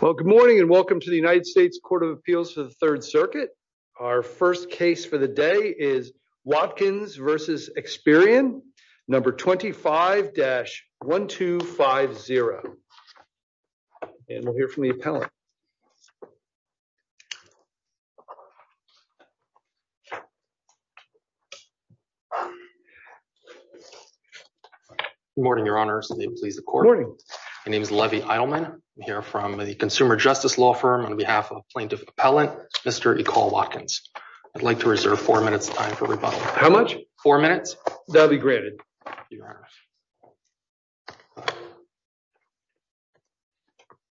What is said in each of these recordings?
Well, good morning and welcome to the United States Court of Appeals for the Third Circuit. Our first case for the day is Watkins v. Experian, No. 25-1250. And we'll hear from the appellant. Good morning, Your Honor. May it please the Court. Good morning. My name is Levy Eilman. I'm here from the consumer justice law firm on behalf of plaintiff appellant Mr. Ecole Watkins. I'd like to reserve four minutes of time for rebuttal. How much? Four minutes. That'll be granted. Thank you, Your Honor.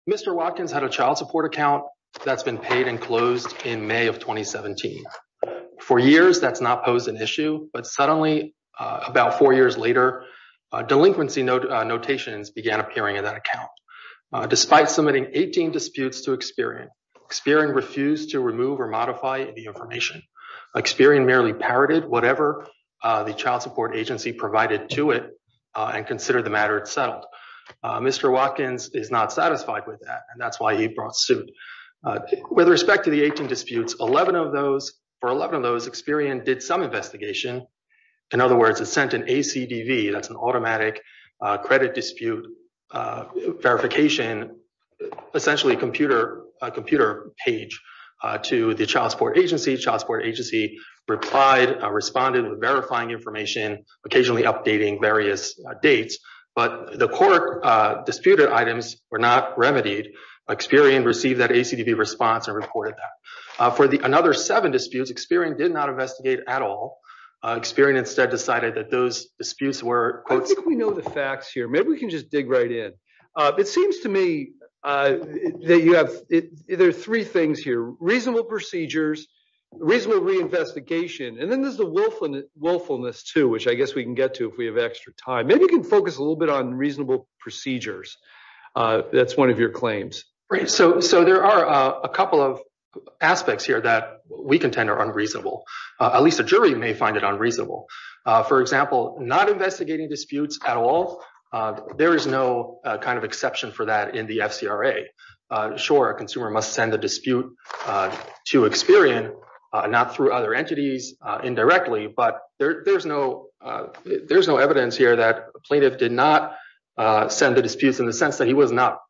Mr. Watkins had a child support account that's been paid and closed in May of 2017. For years, that's not posed an issue. But suddenly, about four years later, delinquency notations began appearing in that account. Despite submitting 18 disputes to Experian, Experian refused to remove or modify the information. Experian merely parroted whatever the child support agency provided to it and considered the matter as settled. Mr. Watkins is not satisfied with that, and that's why he brought suit. With respect to the 18 disputes, for 11 of those, Experian did some investigation. In other words, it sent an ACDV. That's an automatic credit dispute verification, essentially a computer page to the child support agency. The child support agency replied, responded with verifying information, occasionally updating various dates. But the court disputed items were not remedied. Experian received that ACDV response and reported that. For another seven disputes, Experian did not investigate at all. Experian instead decided that those disputes were— I think we know the facts here. Maybe we can just dig right in. It seems to me that you have—there are three things here, reasonable procedures, reasonable reinvestigation, and then there's the willfulness, too, which I guess we can get to if we have extra time. Maybe we can focus a little bit on reasonable procedures. That's one of your claims. Right. So there are a couple of aspects here that we contend are unreasonable. At least a jury may find it unreasonable. For example, not investigating disputes at all, there is no kind of exception for that in the FCRA. Sure, a consumer must send a dispute to Experian, not through other entities indirectly, but there's no evidence here that a plaintiff did not send the disputes in the sense that he was not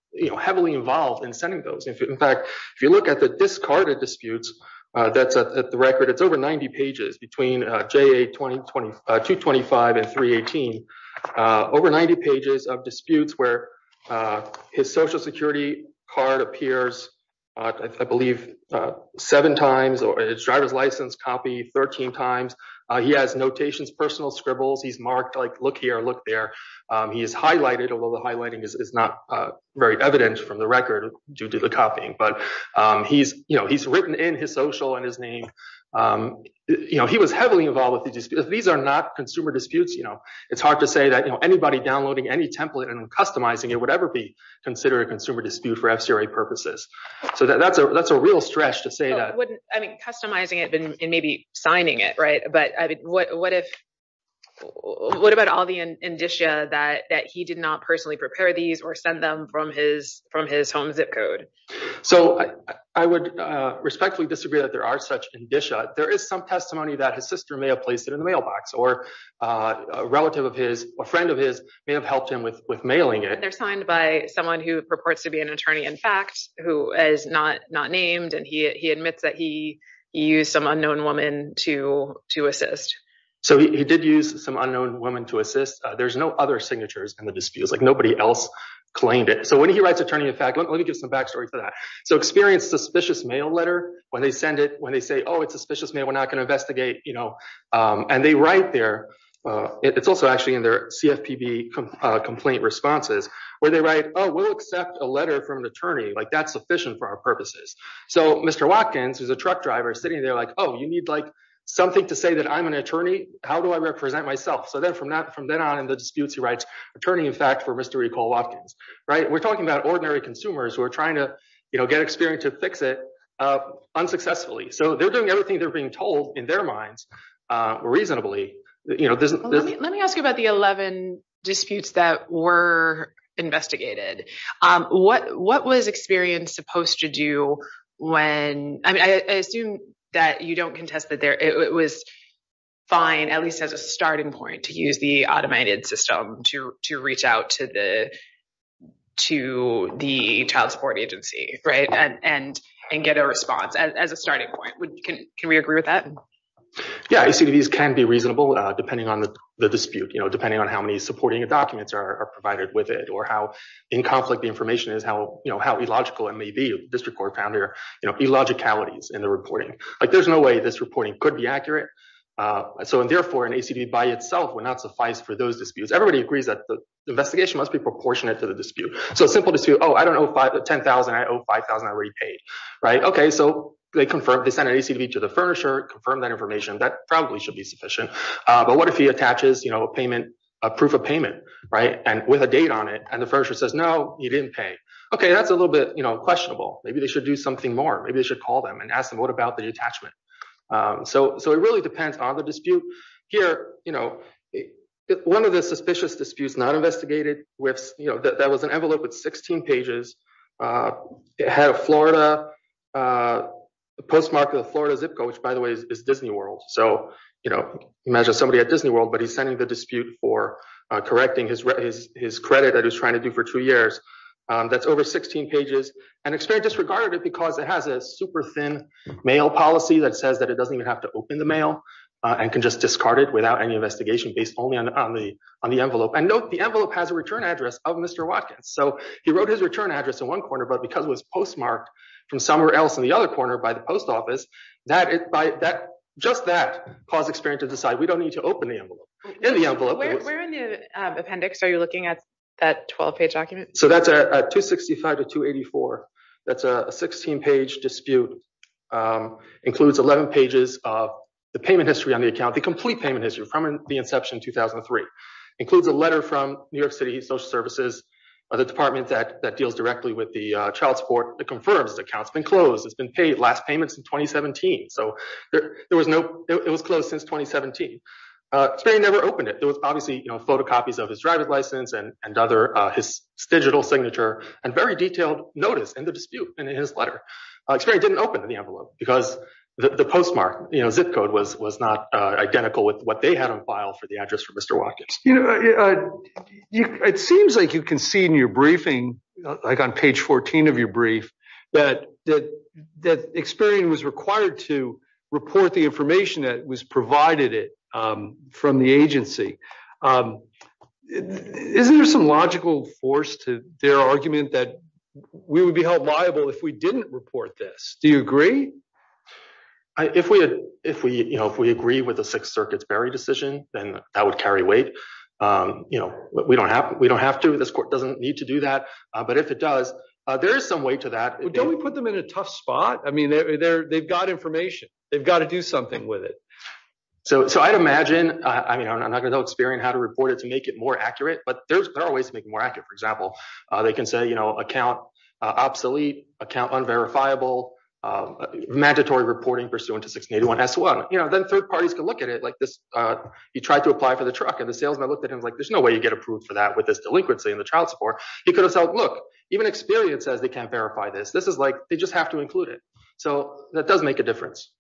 heavily involved in sending those. In fact, if you look at the discarded disputes that's at the record, it's over 90 pages between JA 225 and 318. Over 90 pages of disputes where his Social Security card appears, I believe, seven times or his driver's license copy 13 times. He has notations, personal scribbles. He's marked, like, look here, look there. He is highlighted, although the highlighting is not very evident from the record due to the copying, but he's written in his social and his name. He was heavily involved with the disputes. These are not consumer disputes. It's hard to say that anybody downloading any template and customizing it would ever be considered a consumer dispute for FCRA purposes. So that's a real stretch to say that. I mean, customizing it and maybe signing it, right? But what about all the indicia that he did not personally prepare these or send them from his home zip code? So I would respectfully disagree that there are such indicia. There is some testimony that his sister may have placed it in the mailbox or a relative of his, a friend of his may have helped him with mailing it. They're signed by someone who purports to be an attorney, in fact, who is not named. And he admits that he used some unknown woman to assist. So he did use some unknown woman to assist. There's no other signatures in the disputes, like nobody else claimed it. So when he writes attorney, in fact, let me give some backstory for that. So experience suspicious mail letter when they send it, when they say, oh, it's suspicious mail. We're not going to investigate, you know, and they write there. It's also actually in their CFPB complaint responses where they write, oh, we'll accept a letter from an attorney like that's sufficient for our purposes. So Mr. Watkins is a truck driver sitting there like, oh, you need like something to say that I'm an attorney. How do I represent myself? So then from that from then on in the disputes, he writes attorney, in fact, for Mr. We're talking about ordinary consumers who are trying to get experience to fix it unsuccessfully. So they're doing everything they're being told in their minds reasonably. Let me ask you about the 11 disputes that were investigated. What what was experience supposed to do when I assume that you don't contest that there it was fine, at least as a starting point to use the automated system to to reach out to the to the child support agency. Right. And and and get a response as a starting point. Can we agree with that? Yeah, I see these can be reasonable depending on the dispute, you know, depending on how many supporting documents are provided with it or how in conflict the information is, how, you know, how illogical it may be. District Court founder, you know, illogicalities in the reporting. Like, there's no way this reporting could be accurate. So, and therefore, an ACD by itself will not suffice for those disputes. Everybody agrees that the investigation must be proportionate to the dispute. So simple to say, oh, I don't know, 5 to 10,000. I owe 5,000 already paid. Right. Okay, so they confirm they send an ACV to the furnisher, confirm that information that probably should be sufficient. But what if he attaches, you know, a payment, a proof of payment, right. And with a date on it and the furniture says, no, you didn't pay. Okay, that's a little bit questionable. Maybe they should do something more. Maybe they should call them and ask them what about the attachment. So, so it really depends on the dispute here. One of the suspicious disputes not investigated with, you know, that was an envelope with 16 pages. It had a Florida postmarket, a Florida zip code, which, by the way, is Disney World. So, you know, imagine somebody at Disney World, but he's sending the dispute for correcting his credit that he's trying to do for two years. That's over 16 pages and experienced disregard it because it has a super thin mail policy that says that it doesn't even have to open the mail and can just discard it without any investigation based only on the on the envelope. And note, the envelope has a return address of Mr. Watkins. So he wrote his return address in one corner, but because it was postmarked from somewhere else in the other corner by the post office that it by that just that caused experience to decide we don't need to open the envelope in the envelope. Where in the appendix are you looking at that 12 page document? So that's a 265 to 284. That's a 16 page dispute includes 11 pages of the payment history on the account. The complete payment history from the inception 2003 includes a letter from New York City Social Services. The department that that deals directly with the child support that confirms the accounts been closed has been paid last payments in 2017. So there was no it was closed since 2017. They never opened it. There was obviously, you know, photocopies of his driver's license and and other his digital signature and very detailed notice and the dispute and his letter experience didn't open the envelope because the postmark zip code was was not identical with what they had on file for the address for Mr. Watkins. You know, it seems like you can see in your briefing, like on page 14 of your brief that that that experience was required to report the information that was provided it from the agency. Isn't there some logical force to their argument that we would be held liable if we didn't report this. Do you agree. If we, if we, you know, if we agree with the Sixth Circuit's Barry decision, then that would carry weight. You know, we don't have, we don't have to this court doesn't need to do that. But if it does, there is some way to that. Don't we put them in a tough spot. I mean, they're they've got information. They've got to do something with it. So, so I'd imagine, I mean I'm not going to experience how to report it to make it more accurate but there's always make more accurate for example, they can say you know account obsolete account unverifiable mandatory reporting pursuant to 681 s one, you know, then third parties can look at it like this. You try to apply for the truck and the salesman looked at him like there's no way you get approved for that with this delinquency in the child support, you could have felt look even experience as they can verify this this is like they just have to include it. So, that does make a difference.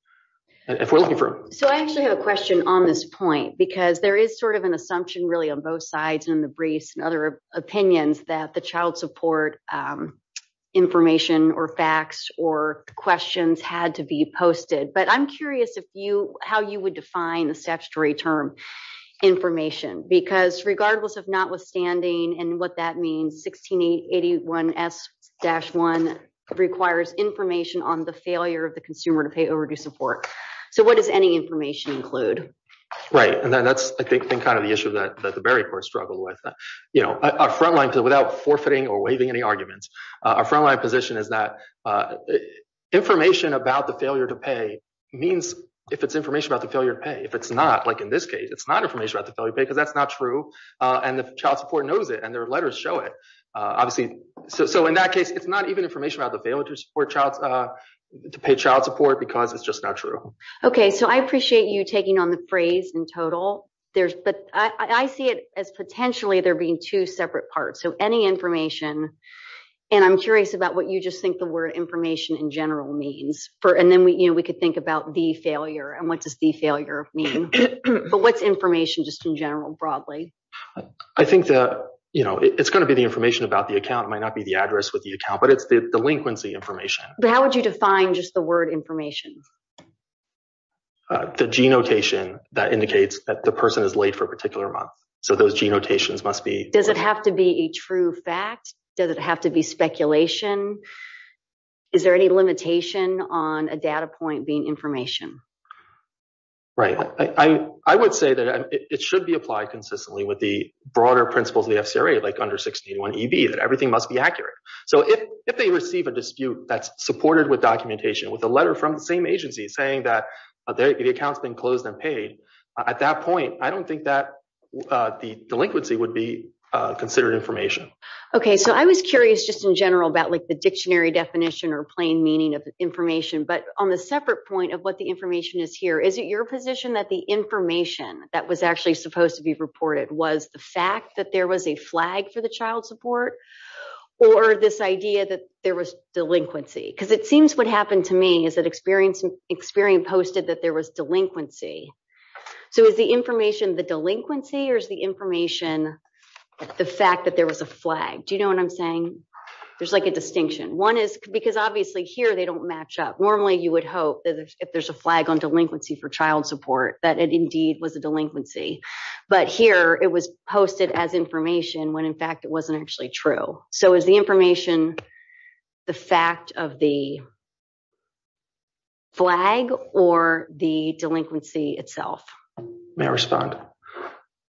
If we're looking for. So I actually have a question on this point because there is sort of an assumption really on both sides and the briefs and other opinions that the child support information or facts or questions had to be posted but I'm curious if you, how you would define the statutory term information because regardless of notwithstanding and what that means 16 81 s dash one requires information on the failure of the consumer to pay overdue support. So what does any information include right and then that's I think been kind of the issue that the very first struggle with, you know, a frontline to without forfeiting or waving any arguments are frontline position is that information about the failure to pay means, if it's information about the failure to pay if it's not like in this case it's not information about the failure because that's not true. And the child support knows it and their letters show it. Obviously, so in that case it's not even information about the failures or child to pay child support because it's just not true. Okay, so I appreciate you taking on the phrase in total, there's but I see it as potentially there being two separate parts so any information. And I'm curious about what you just think the word information in general means for and then we you know we could think about the failure and what does the failure mean. But what's information just in general broadly. I think that, you know, it's going to be the information about the account might not be the address with the account but it's the delinquency information. How would you define just the word information. The g notation that indicates that the person is late for a particular month. So those g notations must be, does it have to be a true fact, does it have to be speculation. Is there any limitation on a data point being information. Right, I would say that it should be applied consistently with the broader principles of the FCRA like under 16 one EB that everything must be accurate. So if they receive a dispute that's supported with documentation with a letter from the same agency saying that the accounts been closed and paid. At that point, I don't think that the delinquency would be considered information. Okay, so I was curious just in general about like the dictionary definition or plain meaning of information but on the separate point of what the information is here. Is it your position that the information that was actually supposed to be reported was the fact that there was a flag for the child support. Or this idea that there was delinquency because it seems what happened to me is that experience and experience posted that there was delinquency. So is the information the delinquency or is the information, the fact that there was a flag. Do you know what I'm saying. There's like a distinction one is because obviously here they don't match up normally you would hope that if there's a flag on delinquency for child support that it indeed was a delinquency, but here it was posted as information when in fact it wasn't actually true. So is the information. The fact of the flag, or the delinquency itself. May I respond.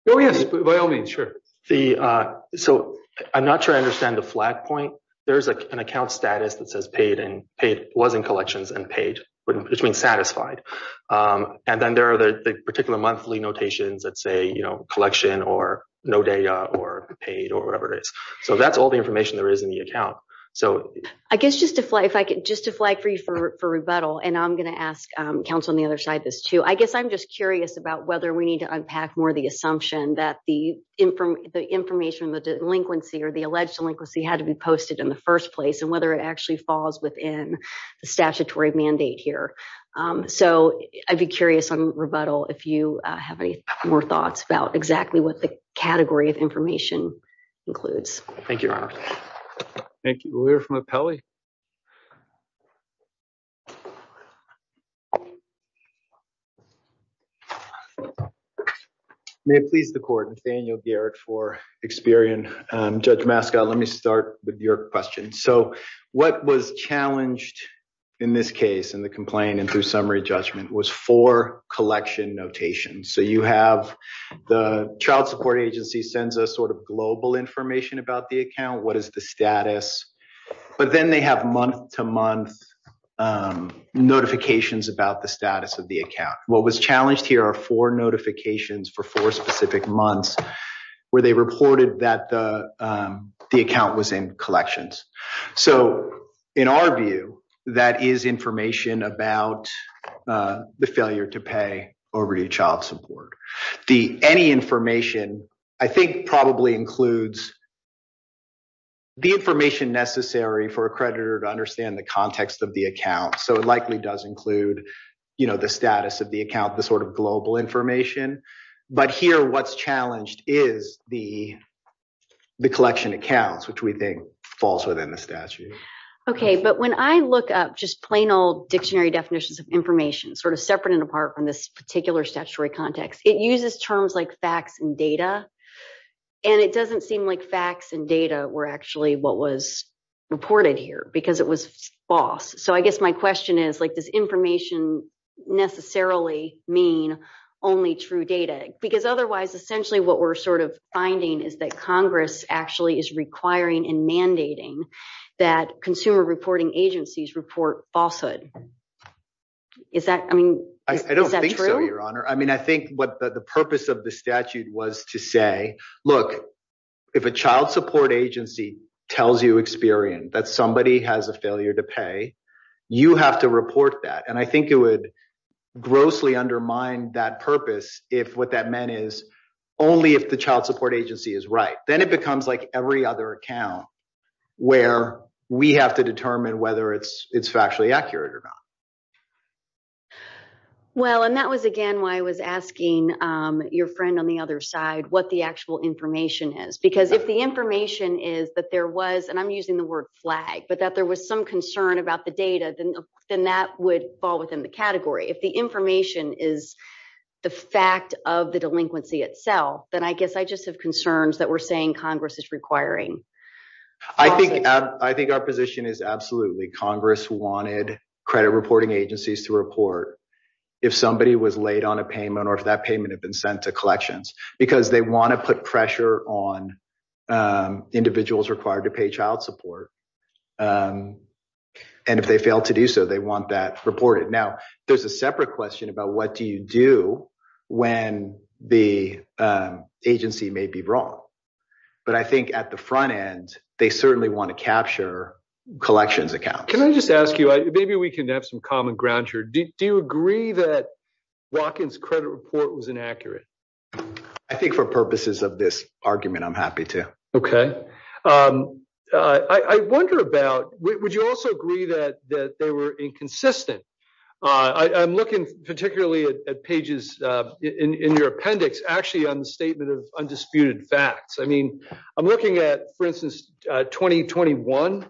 Oh yes, by all means. Sure. The. So, I'm not sure I understand the flag point. There's an account status that says paid and paid wasn't collections and paid, which means satisfied. And then there are the particular monthly notations that say you know collection or no data or paid or whatever it is. So that's all the information there is in the account. So, I guess just to fly if I could just to flag for you for rebuttal and I'm going to ask Council on the other side this too I guess I'm just curious about whether we need to unpack more the assumption that the information the delinquency or the alleged delinquency had to be posted in the first place and whether it actually falls within the statutory mandate here. So, I'd be curious on rebuttal if you have any more thoughts about exactly what the category of information includes. Thank you. Thank you. We're from a Pele. Please the court and Daniel Garrett for Experian judge mascot. Let me start with your question. So, what was challenged. In this case in the complaint and through summary judgment was for collection notation. So, you have the child support agency sends us sort of global information about the account. What is the status, but then they have month to month notifications about the status of the account. What was challenged here are four notifications for four specific months where they reported that the account was in collections. So, in our view, that is information about the failure to pay over your child support. The any information I think probably includes the information necessary for a creditor to understand the context of the account. So, it likely does include, you know, the status of the account the sort of global information, but here what's challenged is the collection accounts, which we think falls within the statute. Okay, but when I look up just plain old dictionary definitions of information sort of separate and apart from this particular statutory context, it uses terms like facts and data. And it doesn't seem like facts and data were actually what was reported here because it was false. So, I guess my question is like this information necessarily mean only true data because otherwise essentially what we're sort of finding is that Congress actually is requiring and mandating that consumer reporting agencies report falsehood. Is that true? I don't think so, Your Honor. I mean, I think what the purpose of the statute was to say, look, if a child support agency tells you, Experian, that somebody has a failure to pay, you have to report that. And I think it would grossly undermine that purpose if what that meant is only if the child support agency is right. Then it becomes like every other account where we have to determine whether it's factually accurate or not. Well, and that was, again, why I was asking your friend on the other side what the actual information is, because if the information is that there was, and I'm using the word flag, but that there was some concern about the data, then that would fall within the category. If the information is the fact of the delinquency itself, then I guess I just have concerns that we're saying Congress is requiring. I think our position is absolutely Congress wanted credit reporting agencies to report if somebody was late on a payment or if that payment had been sent to collections because they want to put pressure on individuals required to pay child support. And if they fail to do so, they want that reported. Now, there's a separate question about what do you do when the agency may be wrong. But I think at the front end, they certainly want to capture collections accounts. Can I just ask you, maybe we can have some common ground here. Do you agree that Watkins credit report was inaccurate? I think for purposes of this argument, I'm happy to. Okay. I wonder about, would you also agree that they were inconsistent? I'm looking particularly at pages in your appendix actually on the statement of undisputed facts. I'm looking at, for instance, 2021.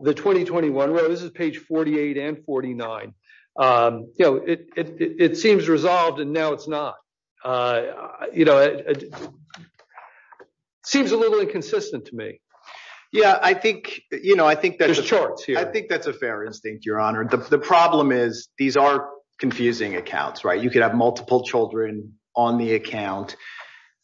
This is page 48 and 49. It seems resolved and now it's not. It seems a little inconsistent to me. There's charts here. I think that's a fair instinct, Your Honor. The problem is these are confusing accounts. You could have multiple children on the account.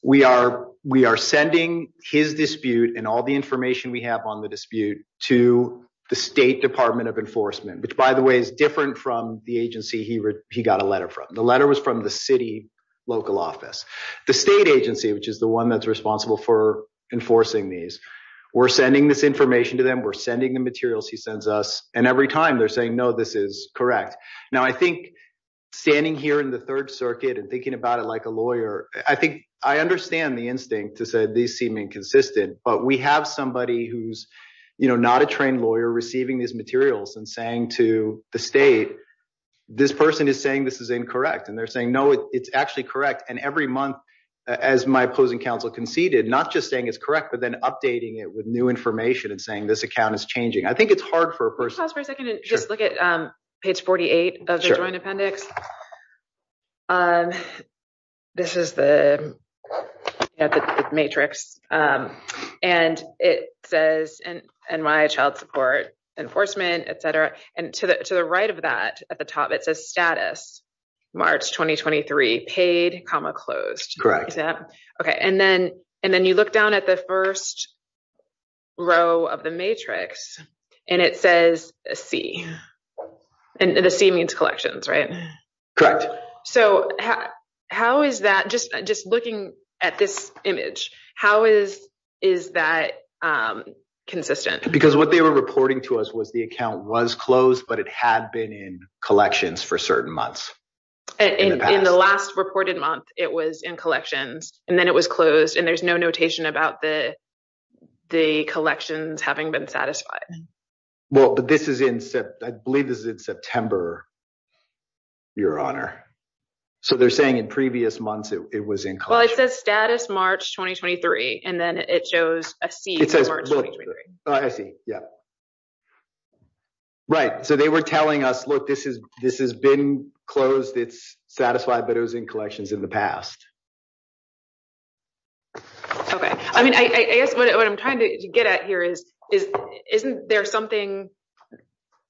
We are sending his dispute and all the information we have on the dispute to the State Department of Enforcement, which, by the way, is different from the agency he got a letter from. The letter was from the city local office. The state agency, which is the one that's responsible for enforcing these, we're sending this information to them. We're sending the materials he sends us. And every time they're saying, no, this is correct. Now, I think standing here in the Third Circuit and thinking about it like a lawyer, I think I understand the instinct to say these seem inconsistent. But we have somebody who's not a trained lawyer receiving these materials and saying to the state, this person is saying this is incorrect. And they're saying, no, it's actually correct. And every month, as my opposing counsel conceded, not just saying it's correct, but then updating it with new information and saying this account is changing. I think it's hard for a person to look at page forty eight of the joint appendix. This is the matrix and it says and my child support enforcement, et cetera. And to the right of that, at the top, it's a status. March twenty twenty three paid comma closed. Correct. OK. And then and then you look down at the first row of the matrix and it says a C and the C means collections. Right. Correct. So how is that just just looking at this image? How is is that consistent? Because what they were reporting to us was the account was closed, but it had been in collections for certain months. In the last reported month, it was in collections and then it was closed. And there's no notation about the the collections having been satisfied. Well, this is in I believe this is in September. Your honor. So they're saying in previous months it was in. Well, it says status, March twenty twenty three. And then it shows a C. I see. Yeah. Right. So they were telling us, look, this is this has been closed. It's satisfied, but it was in collections in the past. OK, I mean, I guess what I'm trying to get at here is, is isn't there something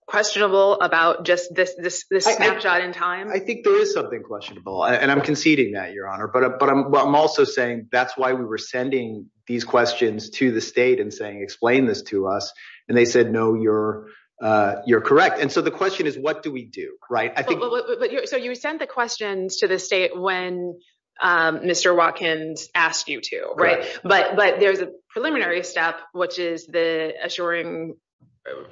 questionable about just this snapshot in time? I think there is something questionable and I'm conceding that, your honor. But I'm also saying that's why we were sending these questions to the state and saying, explain this to us. And they said, no, you're you're correct. And so the question is, what do we do? Right. I think so. You sent the questions to the state when Mr. Watkins asked you to. Right. But but there's a preliminary step, which is the assuring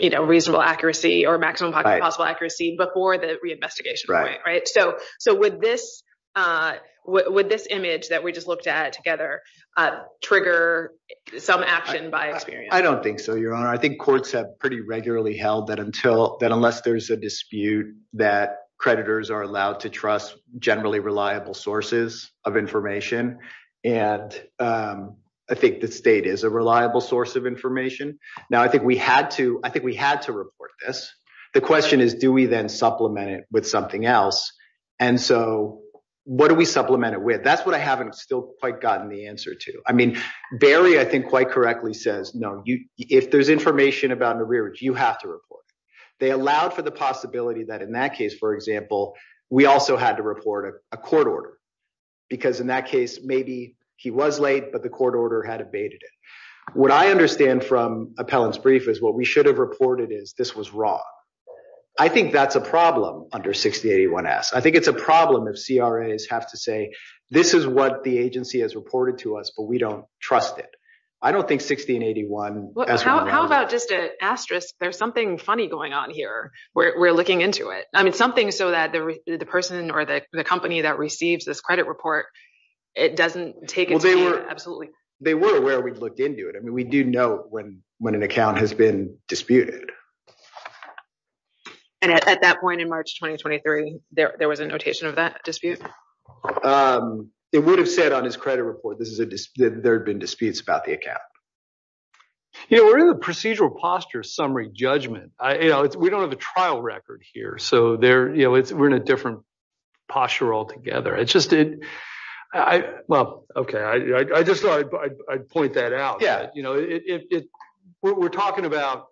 reasonable accuracy or maximum possible accuracy before the reinvestigation. Right. Right. So. So with this, with this image that we just looked at together, trigger some action by. I don't think so, your honor. I think courts have pretty regularly held that until then, unless there's a dispute that creditors are allowed to trust generally reliable sources of information. And I think the state is a reliable source of information. Now, I think we had to I think we had to report this. The question is, do we then supplement it with something else? And so what do we supplement it with? That's what I haven't still quite gotten the answer to. I mean, Barry, I think quite correctly says, no, you if there's information about the rear, you have to report. They allowed for the possibility that in that case, for example, we also had to report a court order because in that case, maybe he was late, but the court order had abated it. What I understand from Appellant's brief is what we should have reported is this was wrong. I think that's a problem under 6081-S. I think it's a problem if CRAs have to say this is what the agency has reported to us, but we don't trust it. I don't think 1681-S. How about just an asterisk? There's something funny going on here. We're looking into it. I mean, something so that the person or the company that receives this credit report, it doesn't take it. Absolutely. They were aware we'd looked into it. I mean, we do know when when an account has been disputed. And at that point in March 2023, there was a notation of that dispute. It would have said on his credit report, this is a dispute. There have been disputes about the account. You know, we're in the procedural posture summary judgment. We don't have a trial record here. So we're in a different posture altogether. I just did. Well, OK, I just thought I'd point that out. Yeah. You know, we're talking about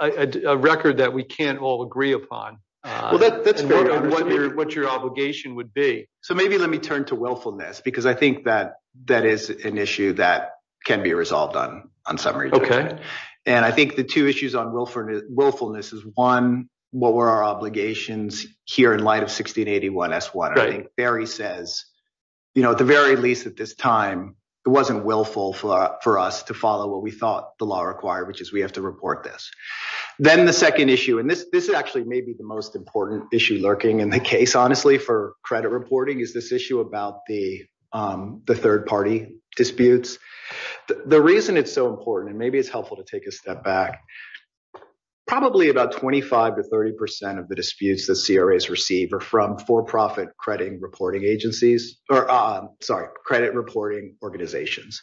a record that we can't all agree upon. Well, that's what your obligation would be. So maybe let me turn to willfulness, because I think that that is an issue that can be resolved on on summary. OK. And I think the two issues on willfulness is one, what were our obligations here in light of 1681-S1? I think Barry says, you know, at the very least at this time, it wasn't willful for us to follow what we thought the law required, which is we have to report this. Then the second issue, and this this actually may be the most important issue lurking in the case, honestly, for credit reporting is this issue about the the third party disputes. The reason it's so important and maybe it's helpful to take a step back. Probably about 25 to 30 percent of the disputes that CRAs receive are from for-profit credit reporting agencies or sorry, credit reporting organizations.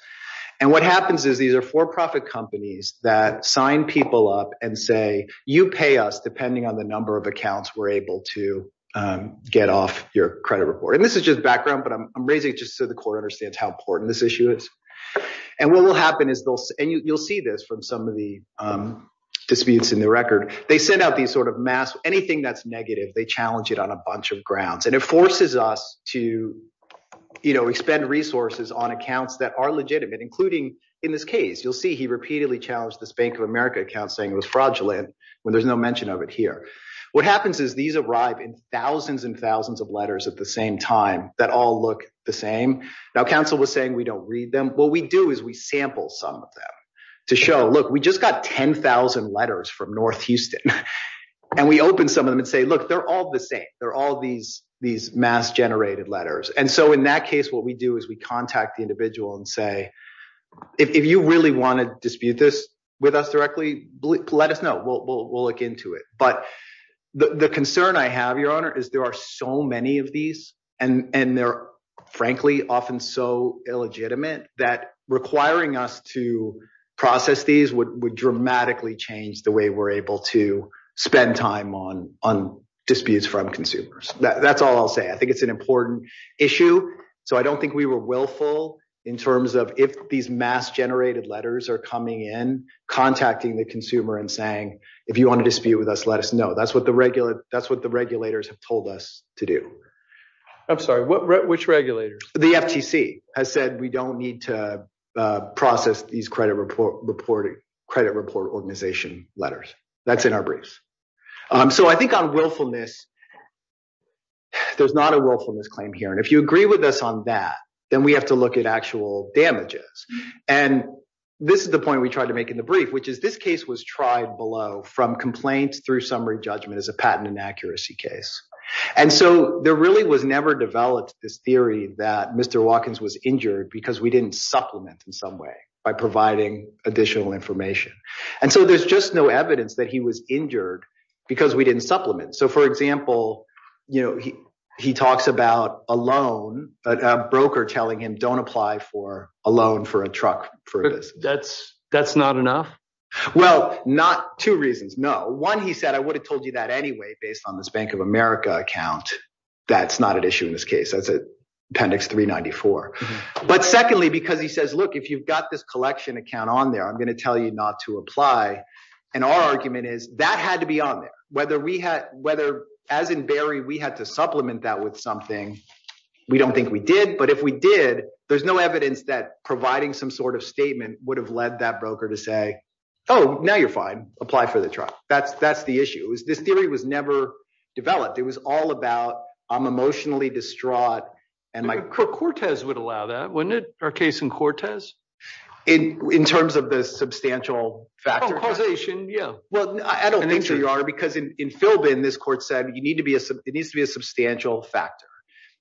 And what happens is these are for-profit companies that sign people up and say, you pay us depending on the number of accounts we're able to get off your credit report. And this is just background, but I'm raising it just so the court understands how important this issue is. And what will happen is you'll see this from some of the disputes in the record. They send out these sort of mass anything that's negative. They challenge it on a bunch of grounds and it forces us to, you know, expend resources on accounts that are legitimate, including in this case. You'll see he repeatedly challenged this Bank of America account saying it was fraudulent when there's no mention of it here. What happens is these arrive in thousands and thousands of letters at the same time that all look the same. Now, counsel was saying we don't read them. But what we do is we sample some of them to show, look, we just got 10,000 letters from North Houston and we open some of them and say, look, they're all the same. They're all these these mass generated letters. And so in that case, what we do is we contact the individual and say, if you really want to dispute this with us directly, let us know. We'll look into it. But the concern I have, Your Honor, is there are so many of these and they're frankly often so illegitimate that requiring us to process these would dramatically change the way we're able to spend time on on disputes from consumers. That's all I'll say. I think it's an important issue. So I don't think we were willful in terms of if these mass generated letters are coming in, contacting the consumer and saying, if you want to dispute with us, let us know. That's what the regular that's what the regulators have told us to do. I'm sorry. Which regulators? The FTC has said we don't need to process these credit report reporting credit report organization letters. That's in our briefs. So I think on willfulness, there's not a willfulness claim here. And if you agree with us on that, then we have to look at actual damages. And this is the point we tried to make in the brief, which is this case was tried below from complaints through summary judgment as a patent inaccuracy case. And so there really was never developed this theory that Mr. Watkins was injured because we didn't supplement in some way by providing additional information. And so there's just no evidence that he was injured because we didn't supplement. So, for example, you know, he he talks about a loan, a broker telling him, don't apply for a loan for a truck for this. That's that's not enough. Well, not two reasons. No. One, he said, I would have told you that anyway, based on this Bank of America account. That's not an issue in this case. That's appendix three ninety four. But secondly, because he says, look, if you've got this collection account on there, I'm going to tell you not to apply. And our argument is that had to be on there, whether we had whether as in Barry, we had to supplement that with something. We don't think we did. But if we did, there's no evidence that providing some sort of statement would have led that broker to say, oh, now you're fine. Apply for the truck. That's that's the issue is this theory was never developed. It was all about I'm emotionally distraught and my Cortez would allow that when our case in Cortez in terms of the substantial factor causation. Yeah, well, I don't think you are, because in Philbin, this court said you need to be it needs to be a substantial factor.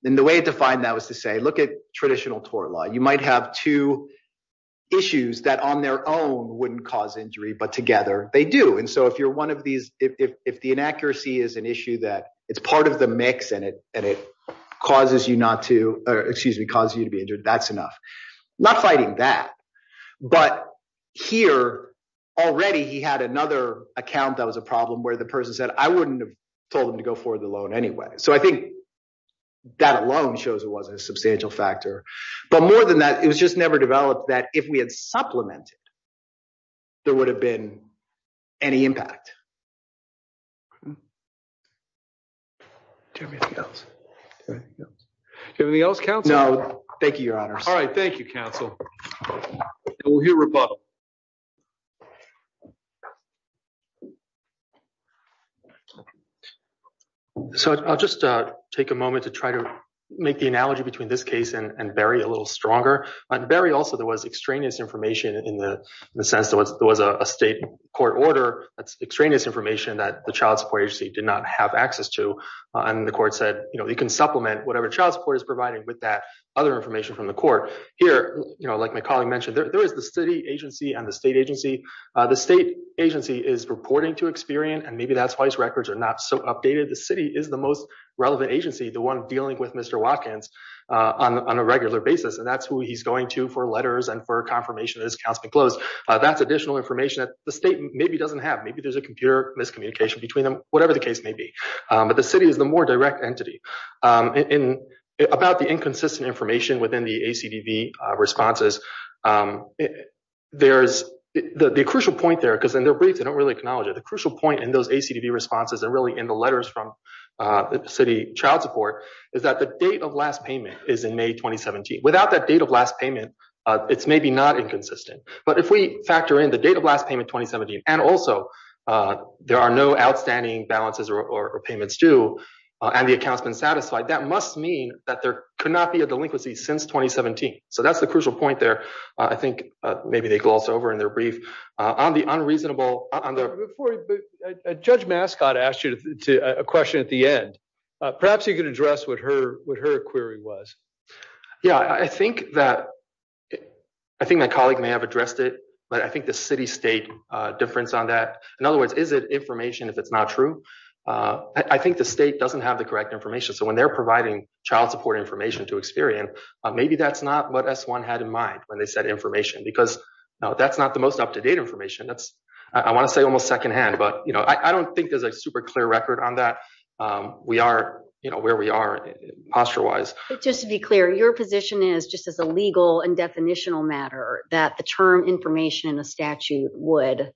And the way to find that was to say, look at traditional tort law. You might have two issues that on their own wouldn't cause injury, but together they do. And so if you're one of these, if the inaccuracy is an issue that it's part of the mix and it and it causes you not to excuse me, cause you to be injured, that's enough. Not fighting that. But here already he had another account. That was a problem where the person said, I wouldn't have told him to go for the loan anyway. So I think that alone shows it wasn't a substantial factor. But more than that, it was just never developed that if we had supplemented, there would have been any impact. Anything else? No, thank you, your honor. All right. Thank you, counsel. We'll hear rebuttal. So I'll just take a moment to try to make the analogy between this case and Barry a little stronger and Barry also there was extraneous information in the sense that there was a state court order extraneous information that the child support agency did not have access to. And the court said, you know, you can supplement whatever child support is providing with that other information from the court here. You know, like my colleague mentioned, there is the city agency and the state agency. The state agency is reporting to experience. And maybe that's why his records are not so updated. The city is the most relevant agency, the one dealing with Mr. Watkins on a regular basis. And that's who he's going to for letters and for confirmation. That's additional information that the state maybe doesn't have. Maybe there's a computer miscommunication between them, whatever the case may be. But the city is the more direct entity in about the inconsistent information within the A.C.D.V. responses. There's the crucial point there because in their briefs, they don't really acknowledge it. The crucial point in those A.C.D.V. responses are really in the letters from the city. Child support is that the date of last payment is in May 2017. Without that date of last payment, it's maybe not inconsistent. But if we factor in the date of last payment, 2017, and also there are no outstanding balances or payments due and the accounts been satisfied, that must mean that there could not be a delinquency since 2017. So that's the crucial point there. I think maybe they gloss over in their brief. On the unreasonable… Judge Mascot asked you a question at the end. Perhaps you could address what her query was. Yeah, I think that my colleague may have addressed it, but I think the city-state difference on that. In other words, is it information if it's not true? I think the state doesn't have the correct information. So when they're providing child support information to Experian, maybe that's not what S-1 had in mind when they said information because that's not the most up-to-date information. I want to say almost secondhand, but I don't think there's a super clear record on that. We are where we are posture-wise. Just to be clear, your position is just as a legal and definitional matter that the term information in a statute would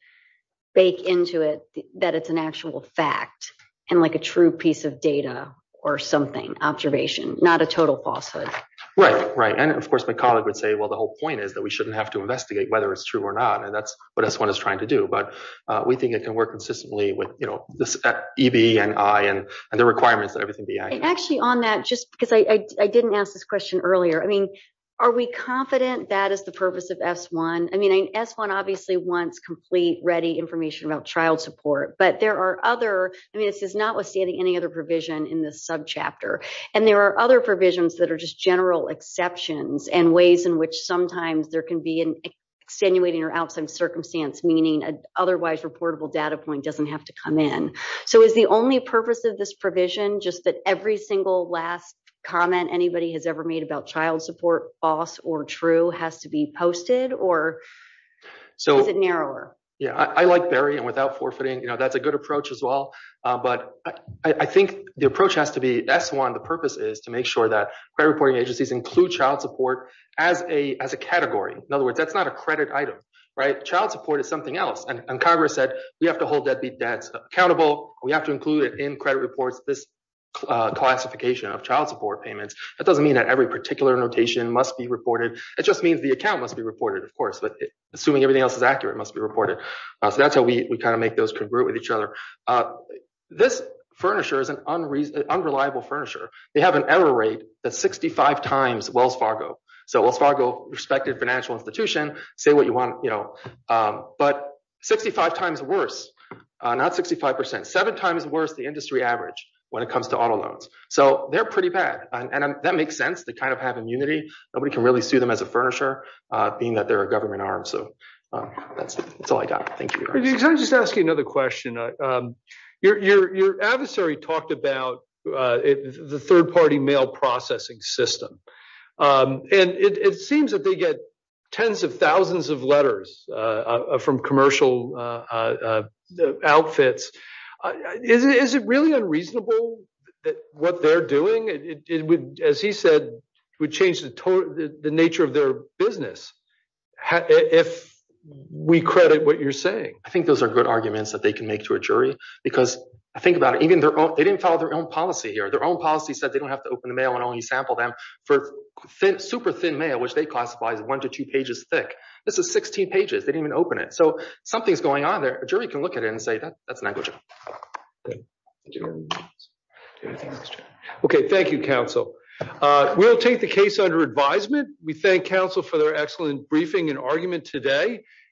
bake into it that it's an actual fact and like a true piece of data or something, observation, not a total falsehood. Right, right. And of course, my colleague would say, well, the whole point is that we shouldn't have to investigate whether it's true or not. And that's what S-1 is trying to do. But we think it can work consistently with EB and I and the requirements that everything be I. And actually on that, just because I didn't ask this question earlier, I mean, are we confident that is the purpose of S-1? I mean, S-1 obviously wants complete, ready information about child support, but there are other, I mean, this is notwithstanding any other provision in this subchapter. And there are other provisions that are just general exceptions and ways in which sometimes there can be an extenuating or outside circumstance, meaning otherwise reportable data point doesn't have to come in. So is the only purpose of this provision just that every single last comment anybody has ever made about child support, false or true, has to be posted or is it narrower? Yeah, I like Barry and without forfeiting, you know, that's a good approach as well. But I think the approach has to be S-1. The purpose is to make sure that reporting agencies include child support as a category. In other words, that's not a credit item, right? Child support is something else. And Congress said we have to hold that the debt's accountable. We have to include it in credit reports, this classification of child support payments. That doesn't mean that every particular notation must be reported. It just means the account must be reported, of course. But assuming everything else is accurate, it must be reported. So that's how we kind of make those congruent with each other. This furniture is an unreliable furniture. They have an error rate that's 65 times Wells Fargo. So Wells Fargo, respected financial institution, say what you want, you know, but 65 times worse, not 65 percent, seven times worse the industry average when it comes to auto loans. So they're pretty bad. And that makes sense. They kind of have immunity. Nobody can really sue them as a furniture, being that they're a government arm. So that's all I got. Can I just ask you another question? Your adversary talked about the third party mail processing system. And it seems that they get tens of thousands of letters from commercial outfits. Is it really unreasonable that what they're doing, as he said, would change the nature of their business? If we credit what you're saying, I think those are good arguments that they can make to a jury, because I think about it. Even though they didn't follow their own policy here, their own policy said they don't have to open the mail and only sample them for super thin mail, which they classify as one to two pages thick. This is 16 pages. They didn't even open it. So something's going on there. A jury can look at it and say that that's not good. OK, thank you, counsel. We'll take the case under advisement. We thank counsel for their excellent briefing and argument today.